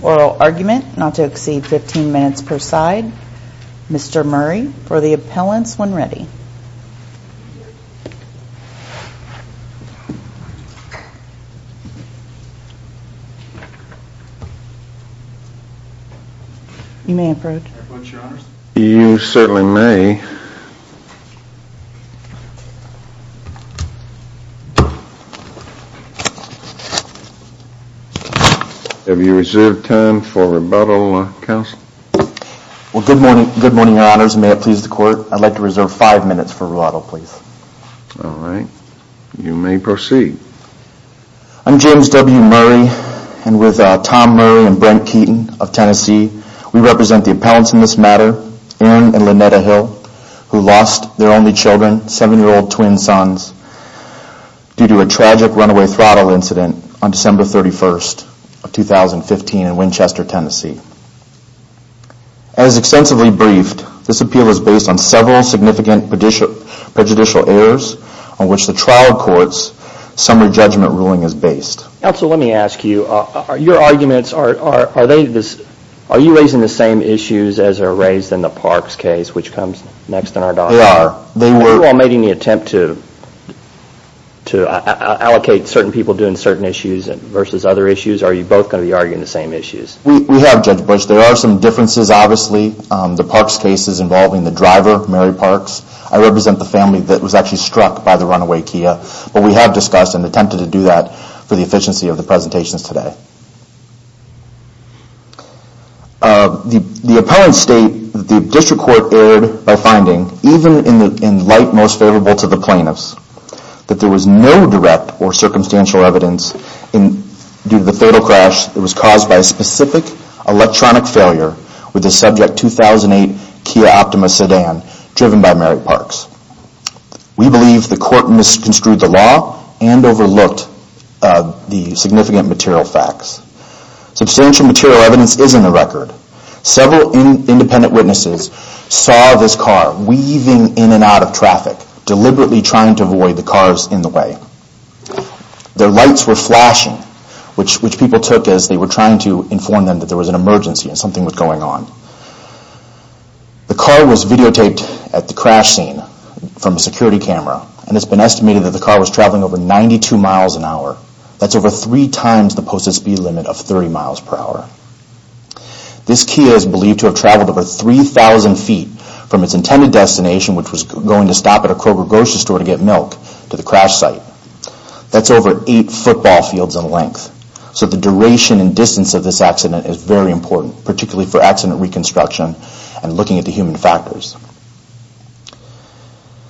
Oral argument not to exceed 15 minutes per side. Mr. Murray for the appellants when ready. You may approach. I vote your honors. You certainly may. Have you reserved time for rebuttal counsel? Well good morning your honors. May it please the court. I'd like to reserve five minutes for rebuttal please. Alright you may proceed. I'm James W. Murray and with Tom Murray and Brent Keaton of Tennessee we represent the appellants in this matter Aaron and Lynetta Hill who lost their only children, seven year old twin sons due to a tragic runaway throttle incident on December 31st of 2015 in Winchester, Tennessee. As extensively briefed, this appeal is based on several significant prejudicial errors on which the trial court's summary judgment ruling is based. Counsel let me ask you, your arguments, are you raising the same issues as are raised in the Parks case which comes next in our document? They are. Have you all made any attempt to allocate certain people doing certain issues versus other issues? Or are you both going to be arguing the same issues? We have Judge Bush. There are some differences obviously. The Parks case is involving the driver, Mary Parks. I represent the family that was actually struck by the runaway Kia. But we have discussed and attempted to do that for the efficiency of the presentations today. The appellants state that the district court erred by finding, even in light most favorable to the plaintiffs, that there was no direct or circumstantial evidence due to the fatal crash that was caused by a specific electronic failure with the subject 2008 Kia Optima sedan driven by Mary Parks. We believe the court misconstrued the law and overlooked the significant material facts. Substantial material evidence is in the record. Several independent witnesses saw this car weaving in and out of traffic, deliberately trying to avoid the cars in the way. The lights were flashing which people took as they were trying to inform them that there was an emergency and something was going on. The car was videotaped at the crash scene from a security camera and it has been estimated that the car was traveling over 92 miles an hour. That's over three times the posted speed limit of 30 miles per hour. This Kia is believed to have traveled over 3,000 feet from its intended destination, which was going to stop at a Kroger grocery store to get milk, to the crash site. That's over 8 football fields in length. So the duration and distance of this accident is very important, particularly for accident reconstruction and looking at the human factors.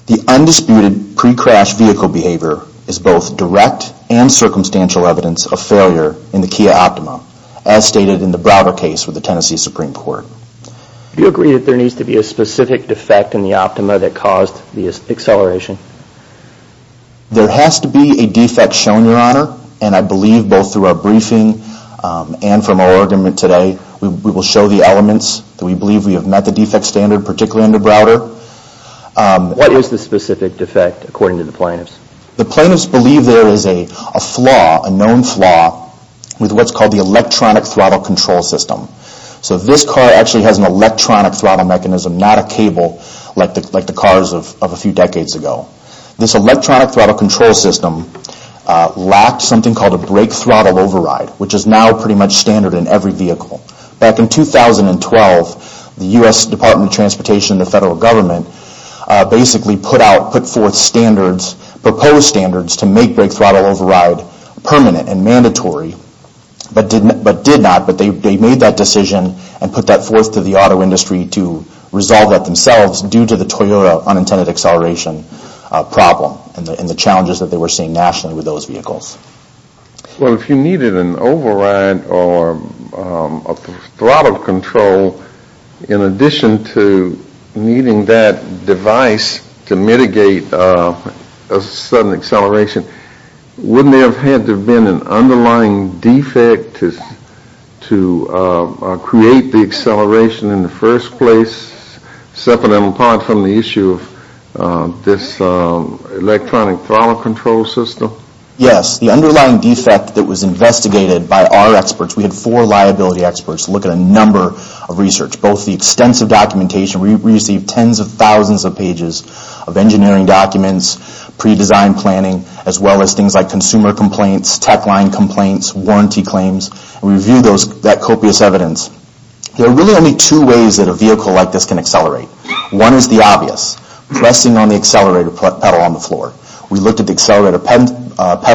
The undisputed pre-crash vehicle behavior is both direct and circumstantial evidence of failure in the Kia Optima, as stated in the Browder case with the Tennessee Supreme Court. Do you agree that there needs to be a specific defect in the Optima that caused the acceleration? There has to be a defect shown, Your Honor, and I believe both through our briefing and from our argument today, we will show the elements that we believe we have met the defect standard, particularly in the Browder. What is the specific defect according to the plaintiffs? The plaintiffs believe there is a flaw, a known flaw, with what's called the electronic throttle control system. So this car actually has an electronic throttle mechanism, not a cable like the cars of a few decades ago. This electronic throttle control system lacked something called a brake throttle override, which is now pretty much standard in every vehicle. Back in 2012, the U.S. Department of Transportation and the federal government basically put forth proposed standards to make brake throttle override permanent and mandatory, but did not. But they made that decision and put that forth to the auto industry to resolve that themselves due to the Toyota unintended acceleration problem and the challenges that they were seeing nationally with those vehicles. Well, if you needed an override or a throttle control, in addition to needing that device to mitigate a sudden acceleration, wouldn't there have had to have been an underlying defect to create the acceleration in the first place, separate and apart from the issue of this electronic throttle control system? Yes. The underlying defect that was investigated by our experts, we had four liability experts look at a number of research, both the extensive documentation. We received tens of thousands of pages of engineering documents, predesigned planning, as well as things like consumer complaints, tech line complaints, warranty claims. We reviewed that copious evidence. There are really only two ways that a vehicle like this can accelerate. One is the obvious, pressing on the accelerator pedal on the floor. We looked at the accelerator pedal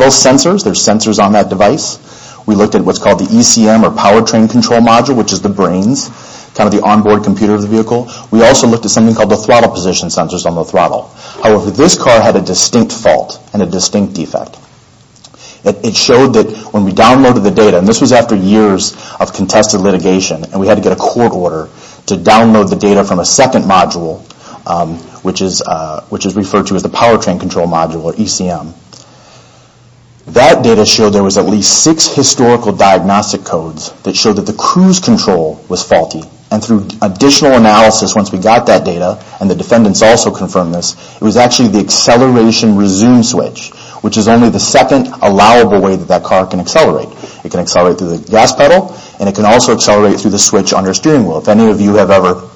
sensors. There are sensors on that device. We looked at what's called the ECM or power train control module, which is the brains, kind of the onboard computer of the vehicle. We also looked at something called the throttle position sensors on the throttle. However, this car had a distinct fault and a distinct defect. It showed that when we downloaded the data, and this was after years of contested litigation, and we had to get a court order to download the data from a second module, which is referred to as the power train control module or ECM. That data showed there was at least six historical diagnostic codes that showed that the cruise control was faulty. Through additional analysis, once we got that data, and the defendants also confirmed this, it was actually the acceleration resume switch, which is only the second allowable way that that car can accelerate. It can accelerate through the gas pedal, and it can also accelerate through the switch on your steering wheel. If any of you have ever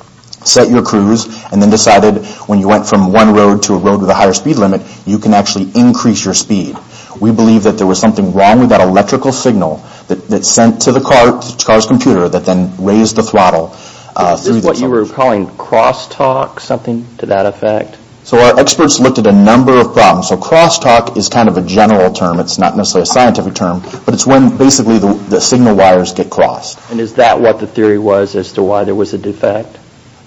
set your cruise and then decided when you went from one road to a road with a higher speed limit, you can actually increase your speed. We believe that there was something wrong with that electrical signal that's sent to the car's computer that then raised the throttle. Is this what you were calling crosstalk, something to that effect? Our experts looked at a number of problems. Crosstalk is kind of a general term. It's not necessarily a scientific term, but it's when basically the signal wires get crossed. Is that what the theory was as to why there was a defect?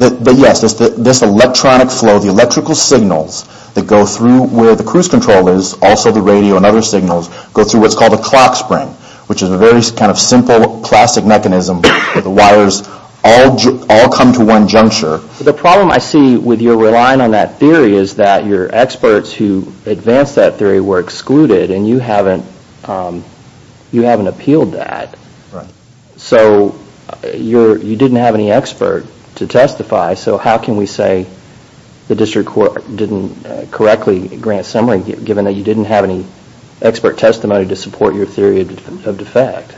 Yes. This electronic flow, the electrical signals that go through where the cruise control is, also the radio and other signals, go through what's called a clock spring, which is a very kind of simple plastic mechanism where the wires all come to one juncture. The problem I see with your relying on that theory is that your experts who advanced that theory were excluded, and you haven't appealed that. Right. So you didn't have any expert to testify, so how can we say the district court didn't correctly grant summary given that you didn't have any expert testimony to support your theory of defect?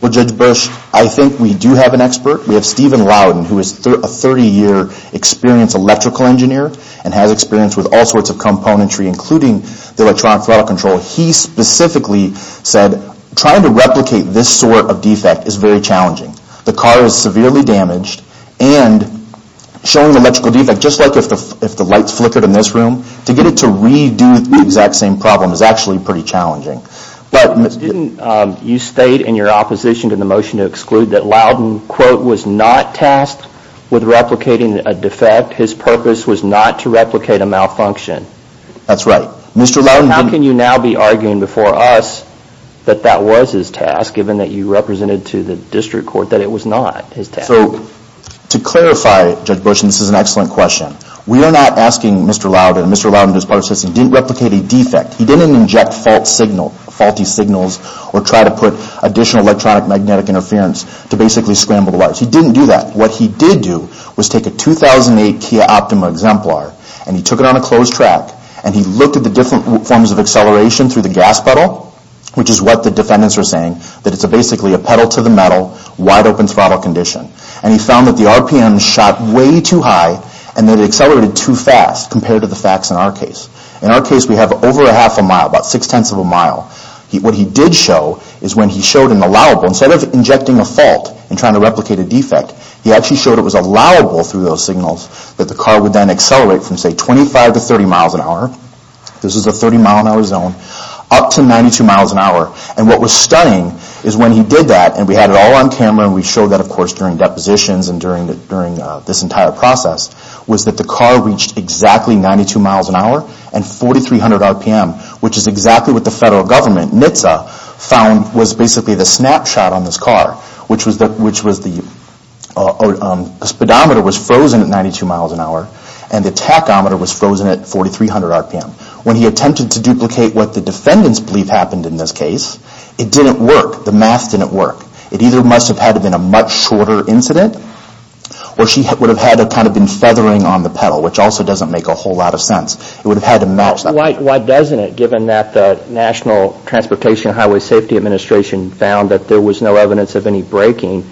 Well, Judge Bush, I think we do have an expert. We have Stephen Loudon, who is a 30-year experienced electrical engineer and has experience with all sorts of componentry, including the electronic throttle control. He specifically said trying to replicate this sort of defect is very challenging. The car is severely damaged, and showing the electrical defect, just like if the lights flickered in this room, to get it to redo the exact same problem is actually pretty challenging. But didn't you state in your opposition to the motion to exclude that Loudon, quote, was not tasked with replicating a defect? His purpose was not to replicate a malfunction. That's right. So how can you now be arguing before us that that was his task, given that you represented to the district court that it was not his task? So to clarify, Judge Bush, and this is an excellent question, we are not asking Mr. Loudon, and Mr. Loudon didn't replicate a defect. He didn't inject faulty signals or try to put additional electronic magnetic interference to basically scramble the lights. He didn't do that. What he did do was take a 2008 Kia Optima Exemplar, and he took it on a closed track, and he looked at the different forms of acceleration through the gas pedal, which is what the defendants were saying, that it's basically a pedal-to-the-metal, wide-open throttle condition. And he found that the RPM shot way too high, and that it accelerated too fast compared to the facts in our case. In our case, we have over a half a mile, about six-tenths of a mile. What he did show is when he showed an allowable, instead of injecting a fault and trying to replicate a defect, he actually showed it was allowable through those signals, that the car would then accelerate from, say, 25 to 30 miles an hour, this is a 30-mile-an-hour zone, up to 92 miles an hour. And what was stunning is when he did that, and we had it all on camera, and we showed that, of course, during depositions and during this entire process, was that the car reached exactly 92 miles an hour and 4,300 RPM, which is exactly what the federal government, NHTSA, found was basically the snapshot on this car, which was the speedometer was frozen at 92 miles an hour, and the tachometer was frozen at 4,300 RPM. When he attempted to duplicate what the defendants believe happened in this case, it didn't work. The math didn't work. It either must have had to have been a much shorter incident, or she would have had to have kind of been feathering on the pedal, which also doesn't make a whole lot of sense. It would have had to match that. Why doesn't it, given that the National Transportation Highway Safety Administration found that there was no evidence of any braking,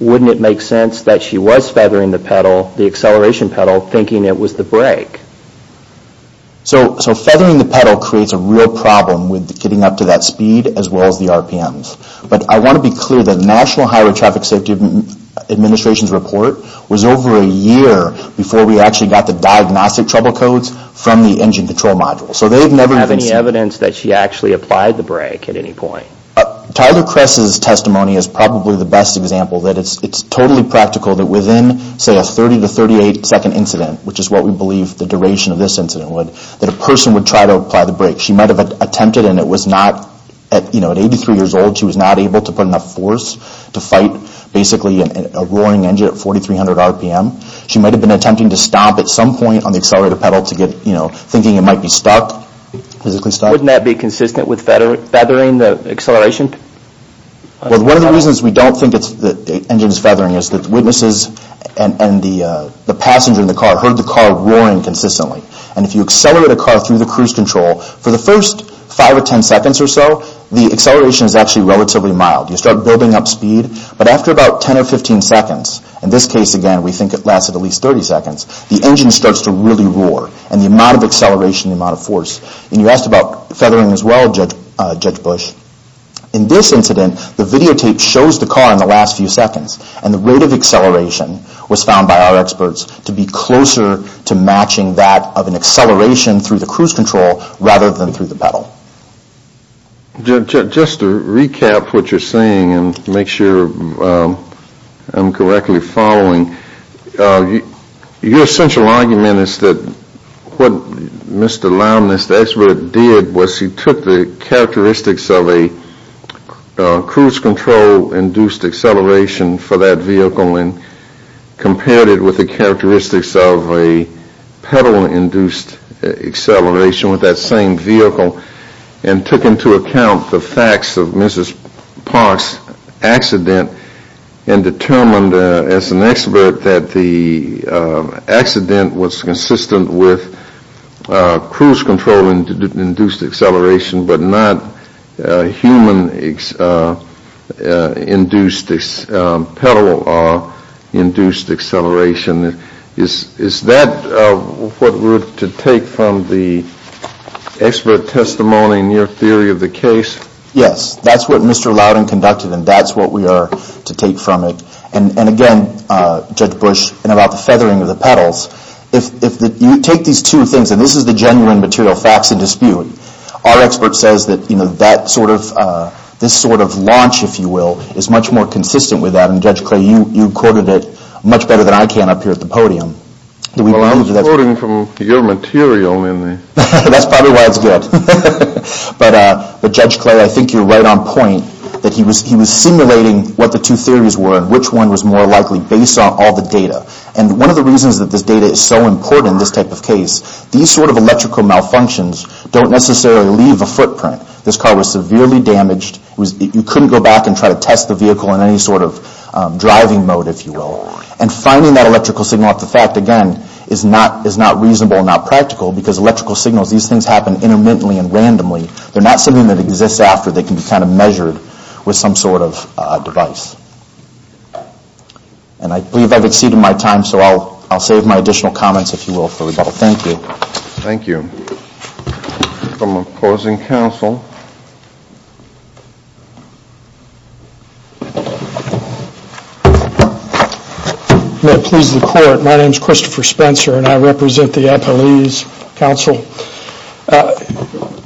wouldn't it make sense that she was feathering the pedal, the acceleration pedal, thinking it was the brake? So feathering the pedal creates a real problem with getting up to that speed as well as the RPMs. But I want to be clear that the National Highway Traffic Safety Administration's report was over a year before we actually got the diagnostic trouble codes from the engine control module. So they've never even seen... They didn't have any evidence that she actually applied the brake at any point. Tyler Kress's testimony is probably the best example. It's totally practical that within, say, a 30 to 38-second incident, which is what we believe the duration of this incident would, that a person would try to apply the brake. She might have attempted, and it was not, you know, at 83 years old, she was not able to put enough force to fight, basically, a roaring engine at 4,300 RPM. She might have been attempting to stop at some point on the accelerator pedal to get, you know, thinking it might be stuck, physically stuck. Wouldn't that be consistent with feathering the acceleration? Well, one of the reasons we don't think the engine is feathering is that witnesses and the passenger in the car heard the car roaring consistently. And if you accelerate a car through the cruise control, for the first 5 or 10 seconds or so, the acceleration is actually relatively mild. You start building up speed, but after about 10 or 15 seconds, in this case, again, we think it lasted at least 30 seconds, the engine starts to really roar and the amount of acceleration, the amount of force. And you asked about feathering as well, Judge Bush. In this incident, the videotape shows the car in the last few seconds and the rate of acceleration was found by our experts to be closer to matching that of an acceleration through the cruise control rather than through the pedal. Just to recap what you're saying and make sure I'm correctly following, your central argument is that what Mr. Lowness, the expert, did was he took the characteristics of a cruise control-induced acceleration for that vehicle and compared it with the characteristics of a pedal-induced acceleration with that same vehicle and took into account the facts of Mrs. Park's accident and determined as an expert that the accident was consistent with cruise control-induced acceleration but not human-induced, pedal-induced acceleration. Is that what we're to take from the expert testimony in your theory of the case? Yes, that's what Mr. Lowden conducted and that's what we are to take from it. And again, Judge Bush, about the feathering of the pedals, if you take these two things, and this is the genuine material facts in dispute, our expert says that this sort of launch, if you will, is much more consistent with that and Judge Clay, you quoted it much better than I can up here at the podium. Well, I was quoting from your material. That's probably why it's good. But Judge Clay, I think you're right on point that he was simulating what the two theories were and which one was more likely based on all the data. And one of the reasons that this data is so important in this type of case, these sort of electrical malfunctions don't necessarily leave a footprint. This car was severely damaged. You couldn't go back and try to test the vehicle in any sort of driving mode, if you will. And finding that electrical signal at the fact, again, is not reasonable, not practical, because electrical signals, these things happen intermittently and randomly. They're not something that exists after. They can be kind of measured with some sort of device. And I believe I've exceeded my time, so I'll save my additional comments, if you will, for rebuttal. Thank you. Thank you. From opposing counsel. May it please the court. My name is Christopher Spencer, and I represent the Applease counsel.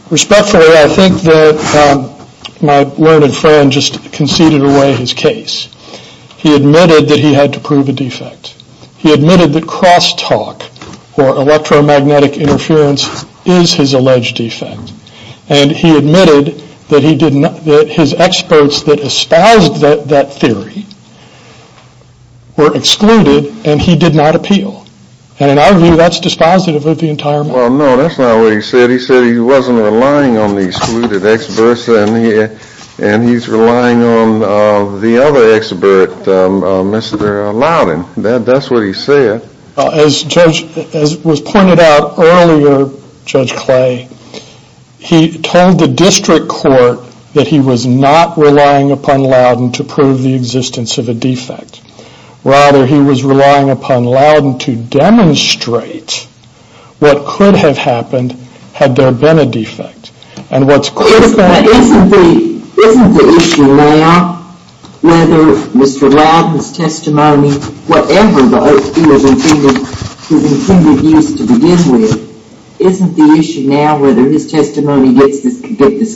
Respectfully, I think that my learned friend just conceded away his case. He admitted that he had to prove a defect. He admitted that crosstalk, or electromagnetic interference, is his alleged defect. And he admitted that his experts that espoused that theory were excluded, and he did not appeal. And in our view, that's dispositive of the entire matter. Well, no, that's not what he said. He said he wasn't relying on the excluded experts, and he's relying on the other expert, Mr. Loudon. That's what he said. As was pointed out earlier, Judge Clay, he told the district court that he was not relying upon Loudon to prove the existence of a defect. Rather, he was relying upon Loudon to demonstrate what could have happened had there been a defect. Isn't the issue now whether Mr. Loudon's testimony, whatever vote he has intended to use to begin with, isn't the issue now whether his testimony gets this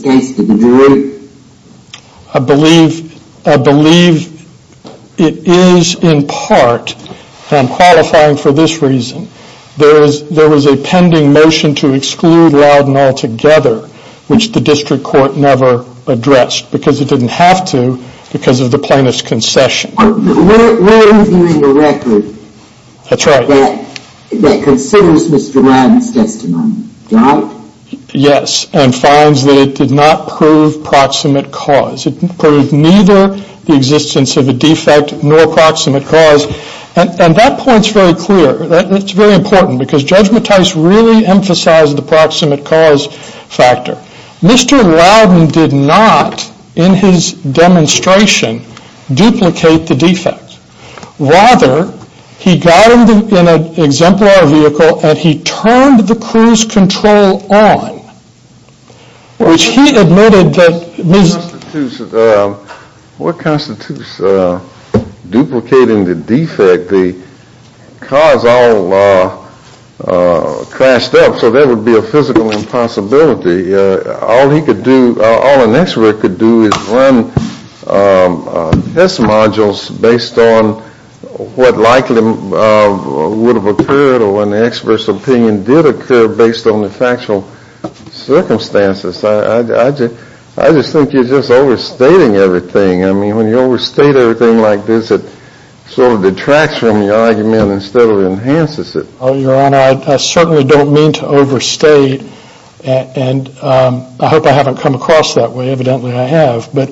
case to the jury? I believe it is in part, and I'm qualifying for this reason, there was a pending motion to exclude Loudon altogether, which the district court never addressed because it didn't have to because of the plaintiff's concession. We're reviewing a record that considers Mr. Loudon's testimony, right? Yes, and finds that it did not prove proximate cause. It proved neither the existence of a defect nor proximate cause. And that point's very clear. It's very important because Judge Mattis really emphasized the proximate cause factor. Mr. Loudon did not, in his demonstration, duplicate the defect. Rather, he got him in an exemplar vehicle and he turned the cruise control on, which he admitted that... The car's all crashed up, so there would be a physical impossibility. All an expert could do is run test modules based on what likely would have occurred or when the expert's opinion did occur based on the factual circumstances. I just think you're just overstating everything. I mean, when you overstate everything like this, it sort of detracts from your argument instead of enhances it. Your Honor, I certainly don't mean to overstate, and I hope I haven't come across that way. Evidently, I have. But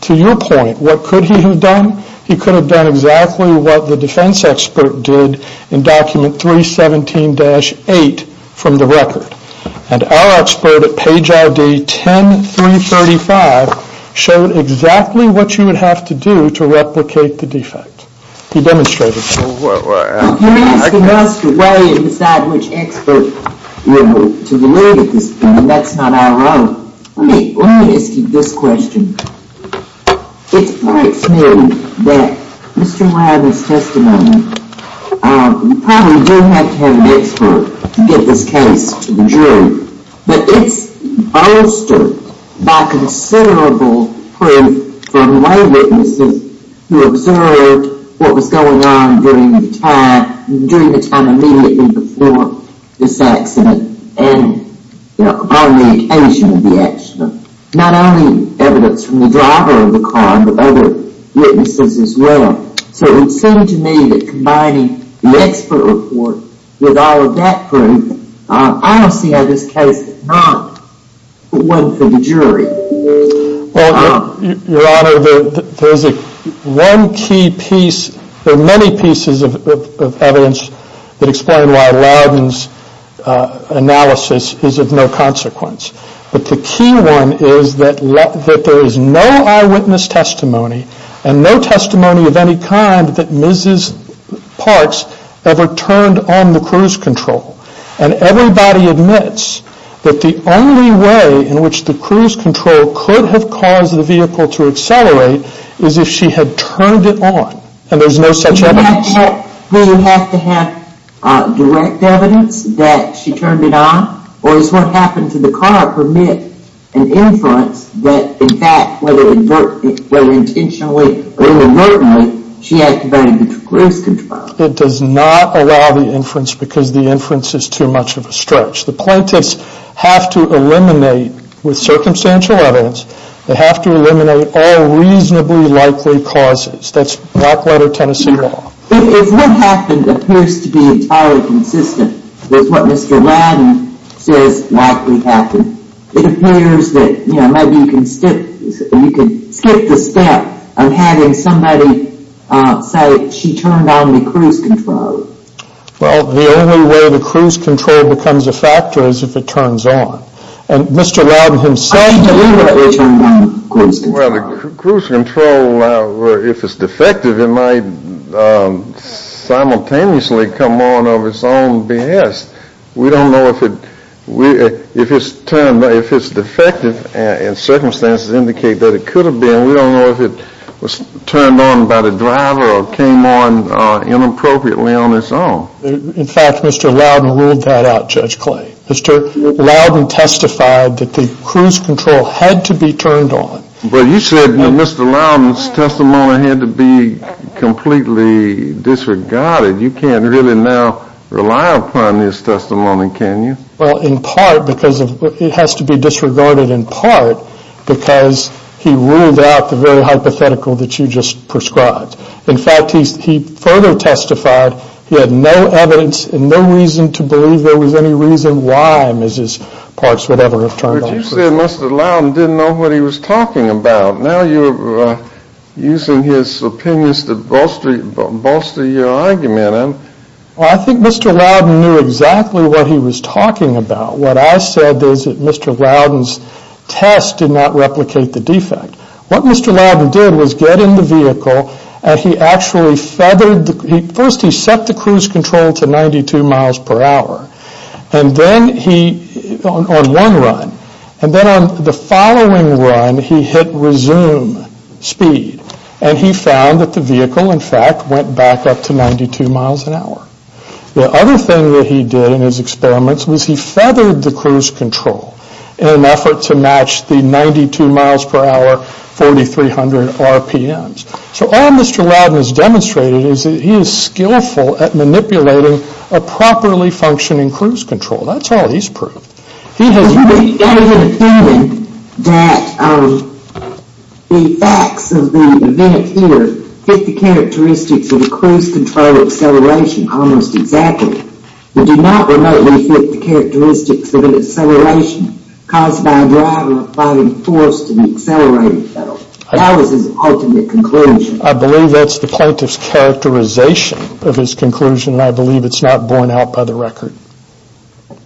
to your point, what could he have done? He could have done exactly what the defense expert did in Document 317-8 from the record. And our expert at page ID 10-335 showed exactly what you would have to do to replicate the defect. He demonstrated that. Well, can you ask the judge the way and decide which expert to believe at this point? That's not our role. Let me ask you this question. It strikes me that Mr. Wilder's testimony, you probably do have to have an expert to get this case to the jury. But it's bolstered by considerable proof from lay witnesses who observed what was going on during the time immediately before this accident and upon the occasion of the accident. Not only evidence from the driver of the car, but other witnesses as well. So it would seem to me that combining the expert report with all of that proof, I don't see how this case could not win for the jury. Well, Your Honor, there is one key piece. There are many pieces of evidence that explain why Loudon's analysis is of no consequence. But the key one is that there is no eyewitness testimony and no testimony of any kind that Mrs. Parks ever turned on the cruise control. And everybody admits that the only way in which the cruise control could have caused the vehicle to accelerate is if she had turned it on. And there's no such evidence. Does she have to have direct evidence that she turned it on? Or does what happened to the car permit an inference that, in fact, whether intentionally or inadvertently, she activated the cruise control? It does not allow the inference because the inference is too much of a stretch. The plaintiffs have to eliminate, with circumstantial evidence, they have to eliminate all reasonably likely causes. That's Blackwater, Tennessee law. If what happened appears to be entirely consistent with what Mr. Loudon says likely happened, it appears that maybe you can skip the step of having somebody say she turned on the cruise control. Well, the only way the cruise control becomes a factor is if it turns on. And Mr. Loudon himself deliberately turned on the cruise control. Well, the cruise control, if it's defective, it might simultaneously come on of its own behest. We don't know if it's defective and circumstances indicate that it could have been. We don't know if it was turned on by the driver or came on inappropriately on its own. In fact, Mr. Loudon ruled that out, Judge Clay. Mr. Loudon testified that the cruise control had to be turned on. But you said Mr. Loudon's testimony had to be completely disregarded. You can't really now rely upon his testimony, can you? Well, in part because it has to be disregarded in part because he ruled out the very hypothetical that you just prescribed. In fact, he further testified he had no evidence and no reason to believe there was any reason why Mrs. Parks would ever have turned on. But you said Mr. Loudon didn't know what he was talking about. Now you're using his opinions to bolster your argument. Well, I think Mr. Loudon knew exactly what he was talking about. What I said is that Mr. Loudon's test did not replicate the defect. What Mr. Loudon did was get in the vehicle and he actually feathered, first he set the cruise control to 92 miles per hour on one run. And then on the following run, he hit resume speed. And he found that the vehicle, in fact, went back up to 92 miles an hour. The other thing that he did in his experiments was he feathered the cruise control in an effort to match the 92 miles per hour, 4300 RPMs. So all Mr. Loudon has demonstrated is that he is skillful at manipulating a properly functioning cruise control. That's all he's proved. He has made an opinion that the facts of the event here fit the characteristics of a cruise control acceleration almost exactly. They do not remotely fit the characteristics of an acceleration caused by a driver applying force to the accelerating pedal. That was his ultimate conclusion. I believe that's the plaintiff's characterization of his conclusion and I believe it's not borne out by the record.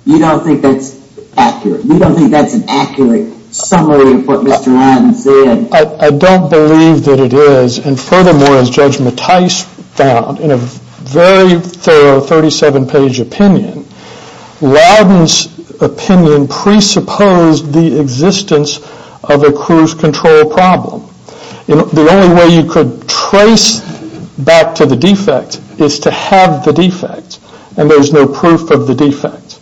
You don't think that's accurate? You don't think that's an accurate summary of what Mr. Loudon said? I don't believe that it is. And furthermore, as Judge Mattis found in a very thorough 37-page opinion, Loudon's opinion presupposed the existence of a cruise control problem. The only way you could trace back to the defect is to have the defect and there's no proof of the defect.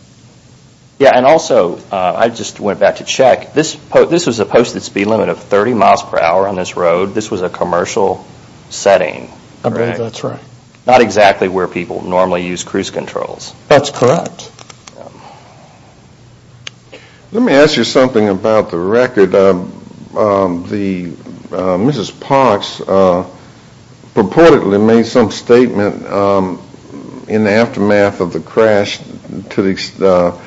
Yeah, and also I just went back to check. This was a posted speed limit of 30 miles per hour on this road. This was a commercial setting. I believe that's right. Not exactly where people normally use cruise controls. That's correct. Let me ask you something about the record. Mrs. Parks purportedly made some statement in the aftermath of the crash that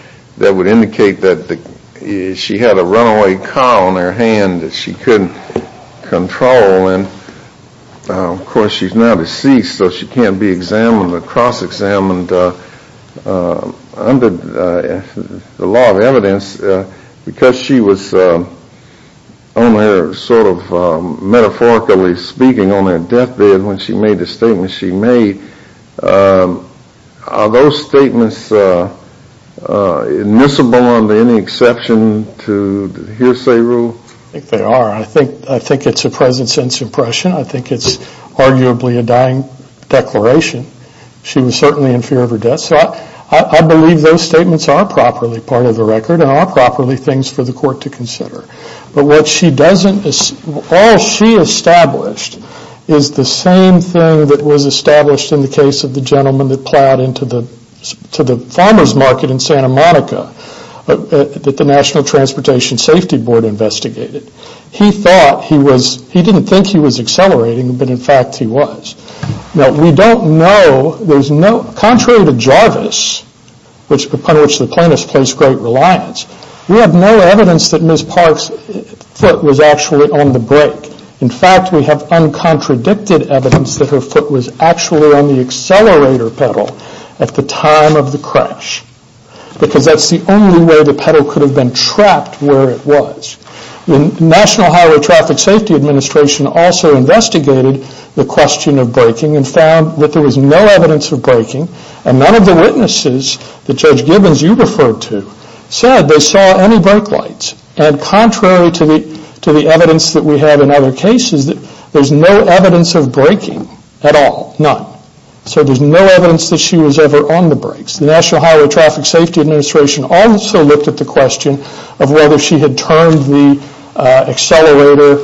would indicate that she had a runaway car on her hand that she couldn't control and of course she's now deceased so she can't be examined or cross-examined under the law of evidence because she was on her sort of metaphorically speaking on her death bed when she made the statement she made. Are those statements admissible under any exception to the hearsay rule? I think they are. I think it's a present sense impression. I think it's arguably a dying declaration. She was certainly in fear of her death. I believe those statements are properly part of the record and are properly things for the court to consider. But what she doesn't, all she established is the same thing that was established in the case of the gentleman that plowed into the farmer's market in Santa Monica that the National Transportation Safety Board investigated. He thought he was, he didn't think he was accelerating but in fact he was. Now we don't know, contrary to Jarvis upon which the plaintiffs place great reliance, we have no evidence that Ms. Park's foot was actually on the brake. In fact we have uncontradicted evidence that her foot was actually on the accelerator pedal at the time of the crash because that's the only way the pedal could have been trapped where it was. The National Highway Traffic Safety Administration also investigated the question of braking and found that there was no evidence of braking. And none of the witnesses that Judge Gibbons you referred to said they saw any brake lights. And contrary to the evidence that we have in other cases, there's no evidence of braking at all, none. So there's no evidence that she was ever on the brakes. The National Highway Traffic Safety Administration also looked at the question of whether she had turned the accelerator,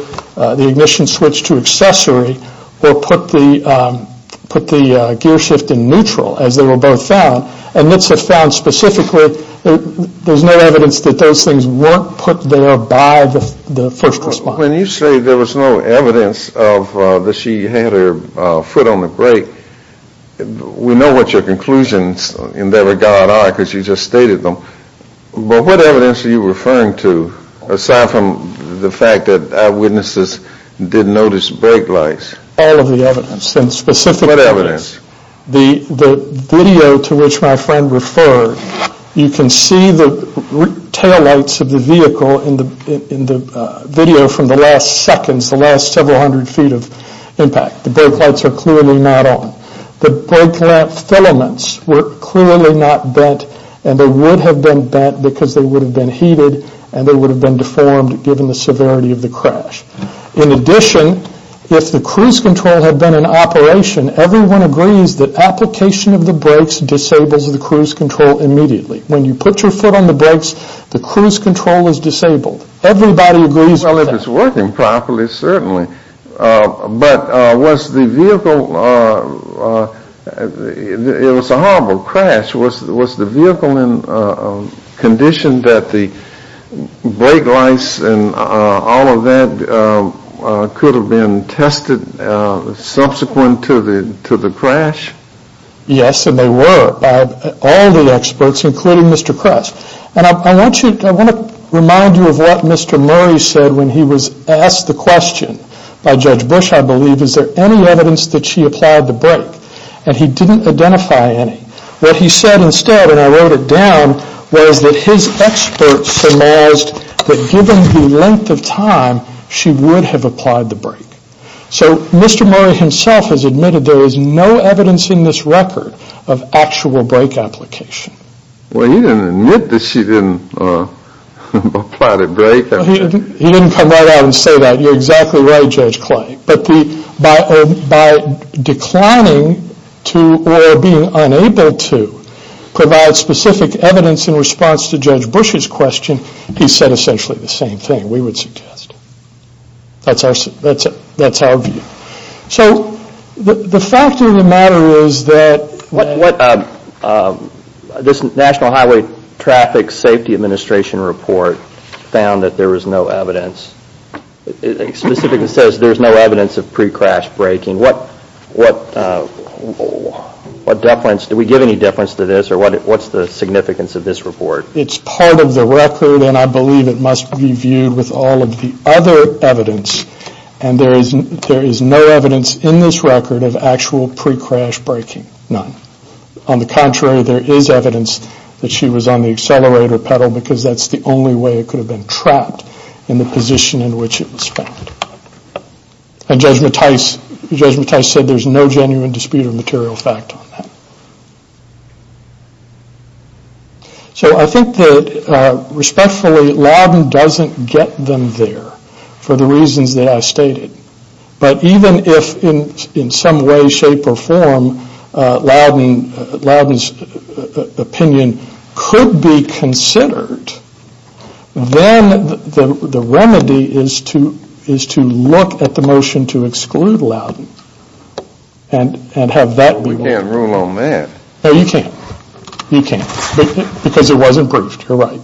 the ignition switch to accessory or put the gear shift in neutral as they were both found. And NITSA found specifically there's no evidence that those things weren't put there by the first responder. When you say there was no evidence that she had her foot on the brake, we know what your conclusions in that regard are because you just stated them. But what evidence are you referring to aside from the fact that eyewitnesses did notice brake lights? All of the evidence and specifically the video to which my friend referred. You can see the taillights of the vehicle in the video from the last seconds, the last several hundred feet of impact. The brake lights are clearly not on. The brake lamp filaments were clearly not bent and they would have been bent because they would have been heated and they would have been deformed given the severity of the crash. In addition, if the cruise control had been in operation, everyone agrees that application of the brakes disables the cruise control immediately. When you put your foot on the brakes, the cruise control is disabled. Everybody agrees with that. Well, if it's working properly, certainly. But was the vehicle, it was a horrible crash. Was the vehicle conditioned that the brake lights and all of that could have been tested subsequent to the crash? Yes, and they were by all the experts including Mr. Kress. And I want to remind you of what Mr. Murray said when he was asked the question by Judge Bush, I believe, is there any evidence that she applied the brake? And he didn't identify any. What he said instead, and I wrote it down, was that his experts surmised that given the length of time, she would have applied the brake. So Mr. Murray himself has admitted there is no evidence in this record of actual brake application. Well, he didn't admit that she didn't apply the brake. He didn't come right out and say that. You're exactly right, Judge Clay. But by declining to or being unable to provide specific evidence in response to Judge Bush's question, he said essentially the same thing, we would suggest. That's our view. So the fact of the matter is that this National Highway Traffic Safety Administration report found that there was no evidence. It specifically says there's no evidence of pre-crash braking. What deference, do we give any deference to this, or what's the significance of this report? It's part of the record, and I believe it must be viewed with all of the other evidence. And there is no evidence in this record of actual pre-crash braking, none. On the contrary, there is evidence that she was on the accelerator pedal because that's the only way it could have been trapped in the position in which it was found. And Judge Mattis said there's no genuine dispute or material fact on that. So I think that respectfully, Loudon doesn't get them there for the reasons that I stated. But even if in some way, shape, or form, Loudon's opinion could be considered, then the remedy is to look at the motion to exclude Loudon and have that be one. We can't rule on that. No, you can't. You can't. Because it wasn't briefed, you're right.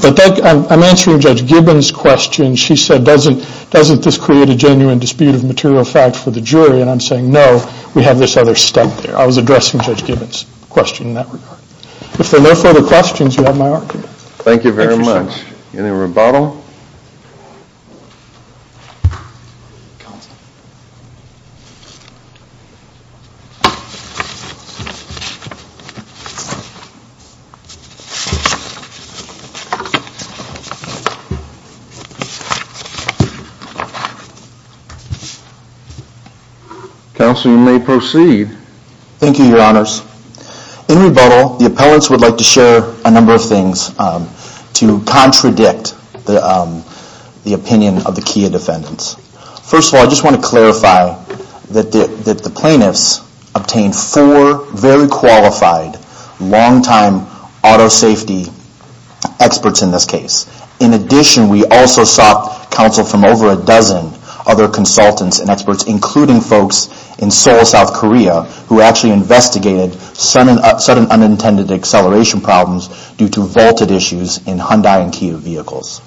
But I'm answering Judge Gibbons' question. She said, doesn't this create a genuine dispute of material fact for the jury? And I'm saying, no, we have this other step there. I was addressing Judge Gibbons' question in that regard. If there are no further questions, you have my argument. Thank you very much. Any rebuttal? Counsel, you may proceed. Thank you, Your Honors. In rebuttal, the appellants would like to share a number of things to contradict the opinion of the Kia defendants. First of all, I just want to clarify that the plaintiffs obtained four very qualified long-time auto safety experts in this case. In addition, we also sought counsel from over a dozen other consultants and experts, including folks in Seoul, South Korea, who actually investigated sudden unintended acceleration problems due to vaulted issues in Hyundai and Kia vehicles.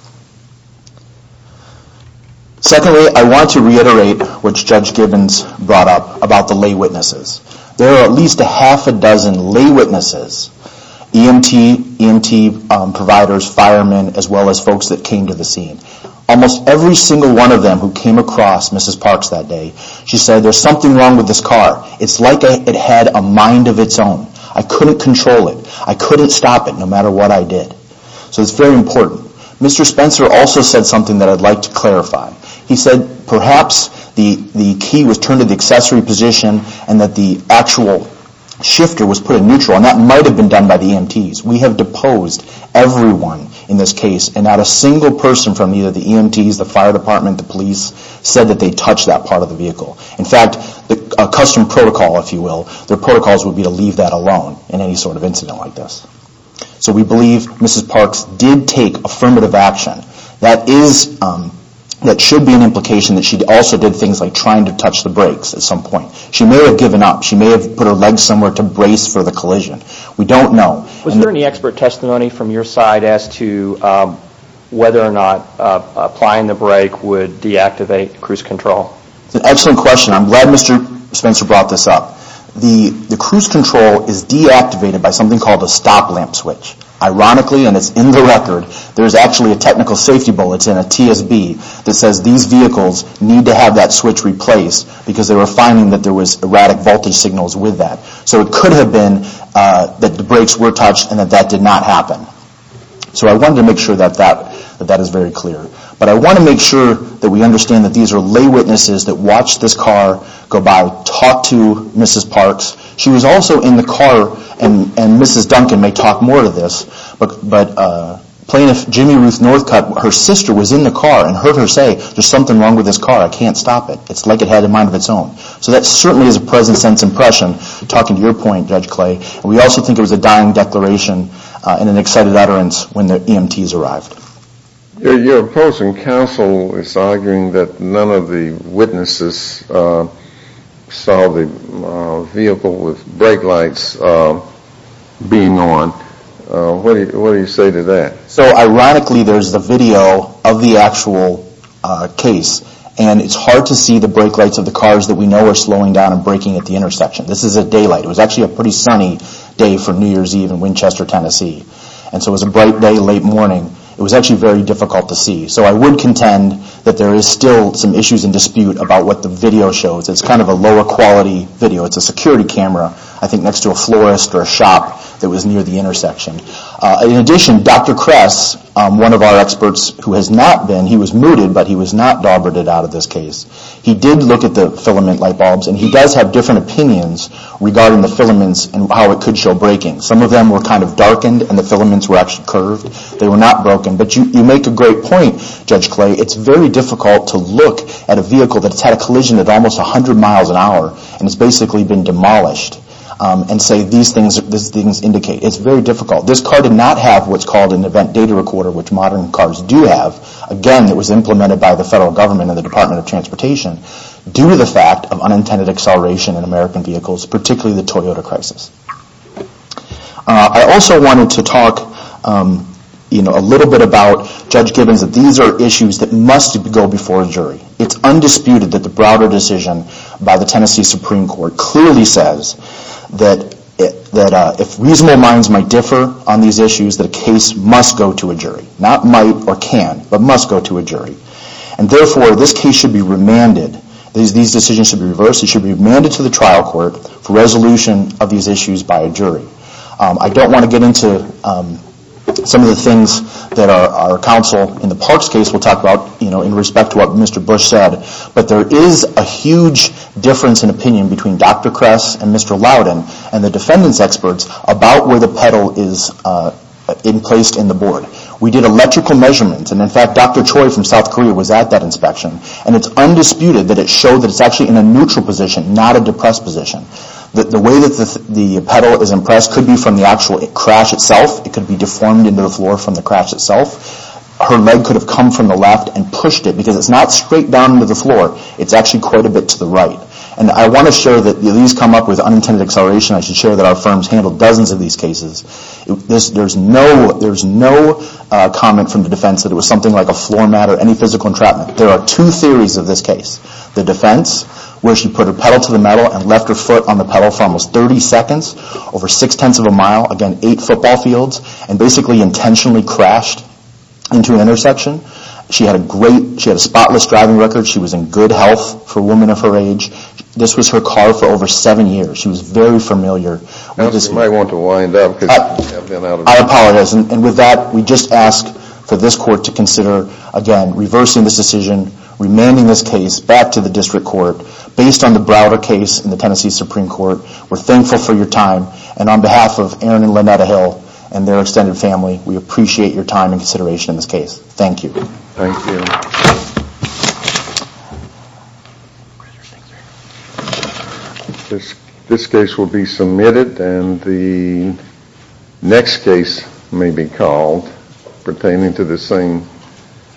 Secondly, I want to reiterate what Judge Gibbons brought up about the lay witnesses. There are at least a half a dozen lay witnesses, EMT providers, firemen, as well as folks that came to the scene. Almost every single one of them who came across Mrs. Parks that day, she said, there's something wrong with this car. It's like it had a mind of its own. I couldn't control it. I couldn't stop it, no matter what I did. So it's very important. Mr. Spencer also said something that I'd like to clarify. He said perhaps the key was turned to the accessory position and that the actual shifter was put in neutral, and that might have been done by the EMTs. We have deposed everyone in this case, and not a single person from either the EMTs, the fire department, the police, said that they touched that part of the vehicle. In fact, a custom protocol, if you will, their protocols would be to leave that alone in any sort of incident like this. So we believe Mrs. Parks did take affirmative action. That should be an implication that she also did things like trying to touch the brakes at some point. She may have given up. She may have put her legs somewhere to brace for the collision. We don't know. Was there any expert testimony from your side as to whether or not applying the brake would deactivate cruise control? That's an excellent question. I'm glad Mr. Spencer brought this up. The cruise control is deactivated by something called a stop lamp switch. Ironically, and it's in the record, there's actually a technical safety bulletin, a TSB, that says these vehicles need to have that switch replaced because they were finding that there was erratic voltage signals with that. So it could have been that the brakes were touched and that that did not happen. So I wanted to make sure that that is very clear. But I want to make sure that we understand that these are lay witnesses that watched this car go by, talked to Mrs. Parks. She was also in the car, and Mrs. Duncan may talk more to this, but Plaintiff Jimmy Ruth Northcutt, her sister was in the car and heard her say, there's something wrong with this car. I can't stop it. It's like it had a mind of its own. So that certainly is a present-sense impression, talking to your point, Judge Clay. And we also think it was a dying declaration and an excited utterance when the EMTs arrived. Your opposing counsel is arguing that none of the witnesses saw the vehicle with brake lights being on. What do you say to that? So ironically, there's the video of the actual case, and it's hard to see the brake lights of the cars that we know are slowing down and braking at the intersection. This is at daylight. It was actually a pretty sunny day for New Year's Eve in Winchester, Tennessee. And so it was a bright day, late morning. It was actually very difficult to see. So I would contend that there is still some issues and dispute about what the video shows. It's kind of a lower-quality video. It's a security camera, I think, next to a florist or a shop that was near the intersection. In addition, Dr. Kress, one of our experts who has not been, he was mooted, but he was not daubered out of this case. He did look at the filament light bulbs, and he does have different opinions regarding the filaments and how it could show braking. Some of them were kind of darkened, and the filaments were actually curved. They were not broken. But you make a great point, Judge Clay. It's very difficult to look at a vehicle that's had a collision at almost 100 miles an hour and has basically been demolished and say these things indicate. It's very difficult. This car did not have what's called an event data recorder, which modern cars do have. Again, it was implemented by the federal government and the Department of Transportation due to the fact of unintended acceleration in American vehicles, particularly the Toyota crisis. I also wanted to talk a little bit about, Judge Gibbons, that these are issues that must go before a jury. It's undisputed that the Browder decision by the Tennessee Supreme Court clearly says that if reasonable minds might differ on these issues, that a case must go to a jury. Not might or can, but must go to a jury. Therefore, this case should be remanded. These decisions should be reversed. It should be remanded to the trial court for resolution of these issues by a jury. I don't want to get into some of the things that our counsel in the Parks case will talk about in respect to what Mr. Bush said, but there is a huge difference in opinion between Dr. Kress and Mr. Loudon and the defendant's experts about where the pedal is placed in the board. We did electrical measurements. In fact, Dr. Choi from South Korea was at that inspection. It's undisputed that it showed that it's actually in a neutral position, not a depressed position. The way that the pedal is impressed could be from the actual crash itself. It could be deformed into the floor from the crash itself. Her leg could have come from the left and pushed it because it's not straight down to the floor. It's actually quite a bit to the right. I want to share that these come up with unintended acceleration. I should share that our firms handled dozens of these cases. There's no comment from the defense that it was something like a floor mat or any physical entrapment. There are two theories of this case. The defense, where she put her pedal to the metal and left her foot on the pedal for almost 30 seconds, over six-tenths of a mile, again, eight football fields, and basically intentionally crashed into an intersection. She had a spotless driving record. She was in good health for a woman of her age. This was her car for over seven years. She was very familiar. You might want to wind up. I apologize. With that, we just ask for this court to consider, again, reversing this decision, remanding this case back to the district court based on the Browder case in the Tennessee Supreme Court. We're thankful for your time. On behalf of Aaron and Lynetta Hill and their extended family, we appreciate your time and consideration in this case. Thank you. Thank you. Thank you. This case will be submitted, and the next case may be called pertaining to the same.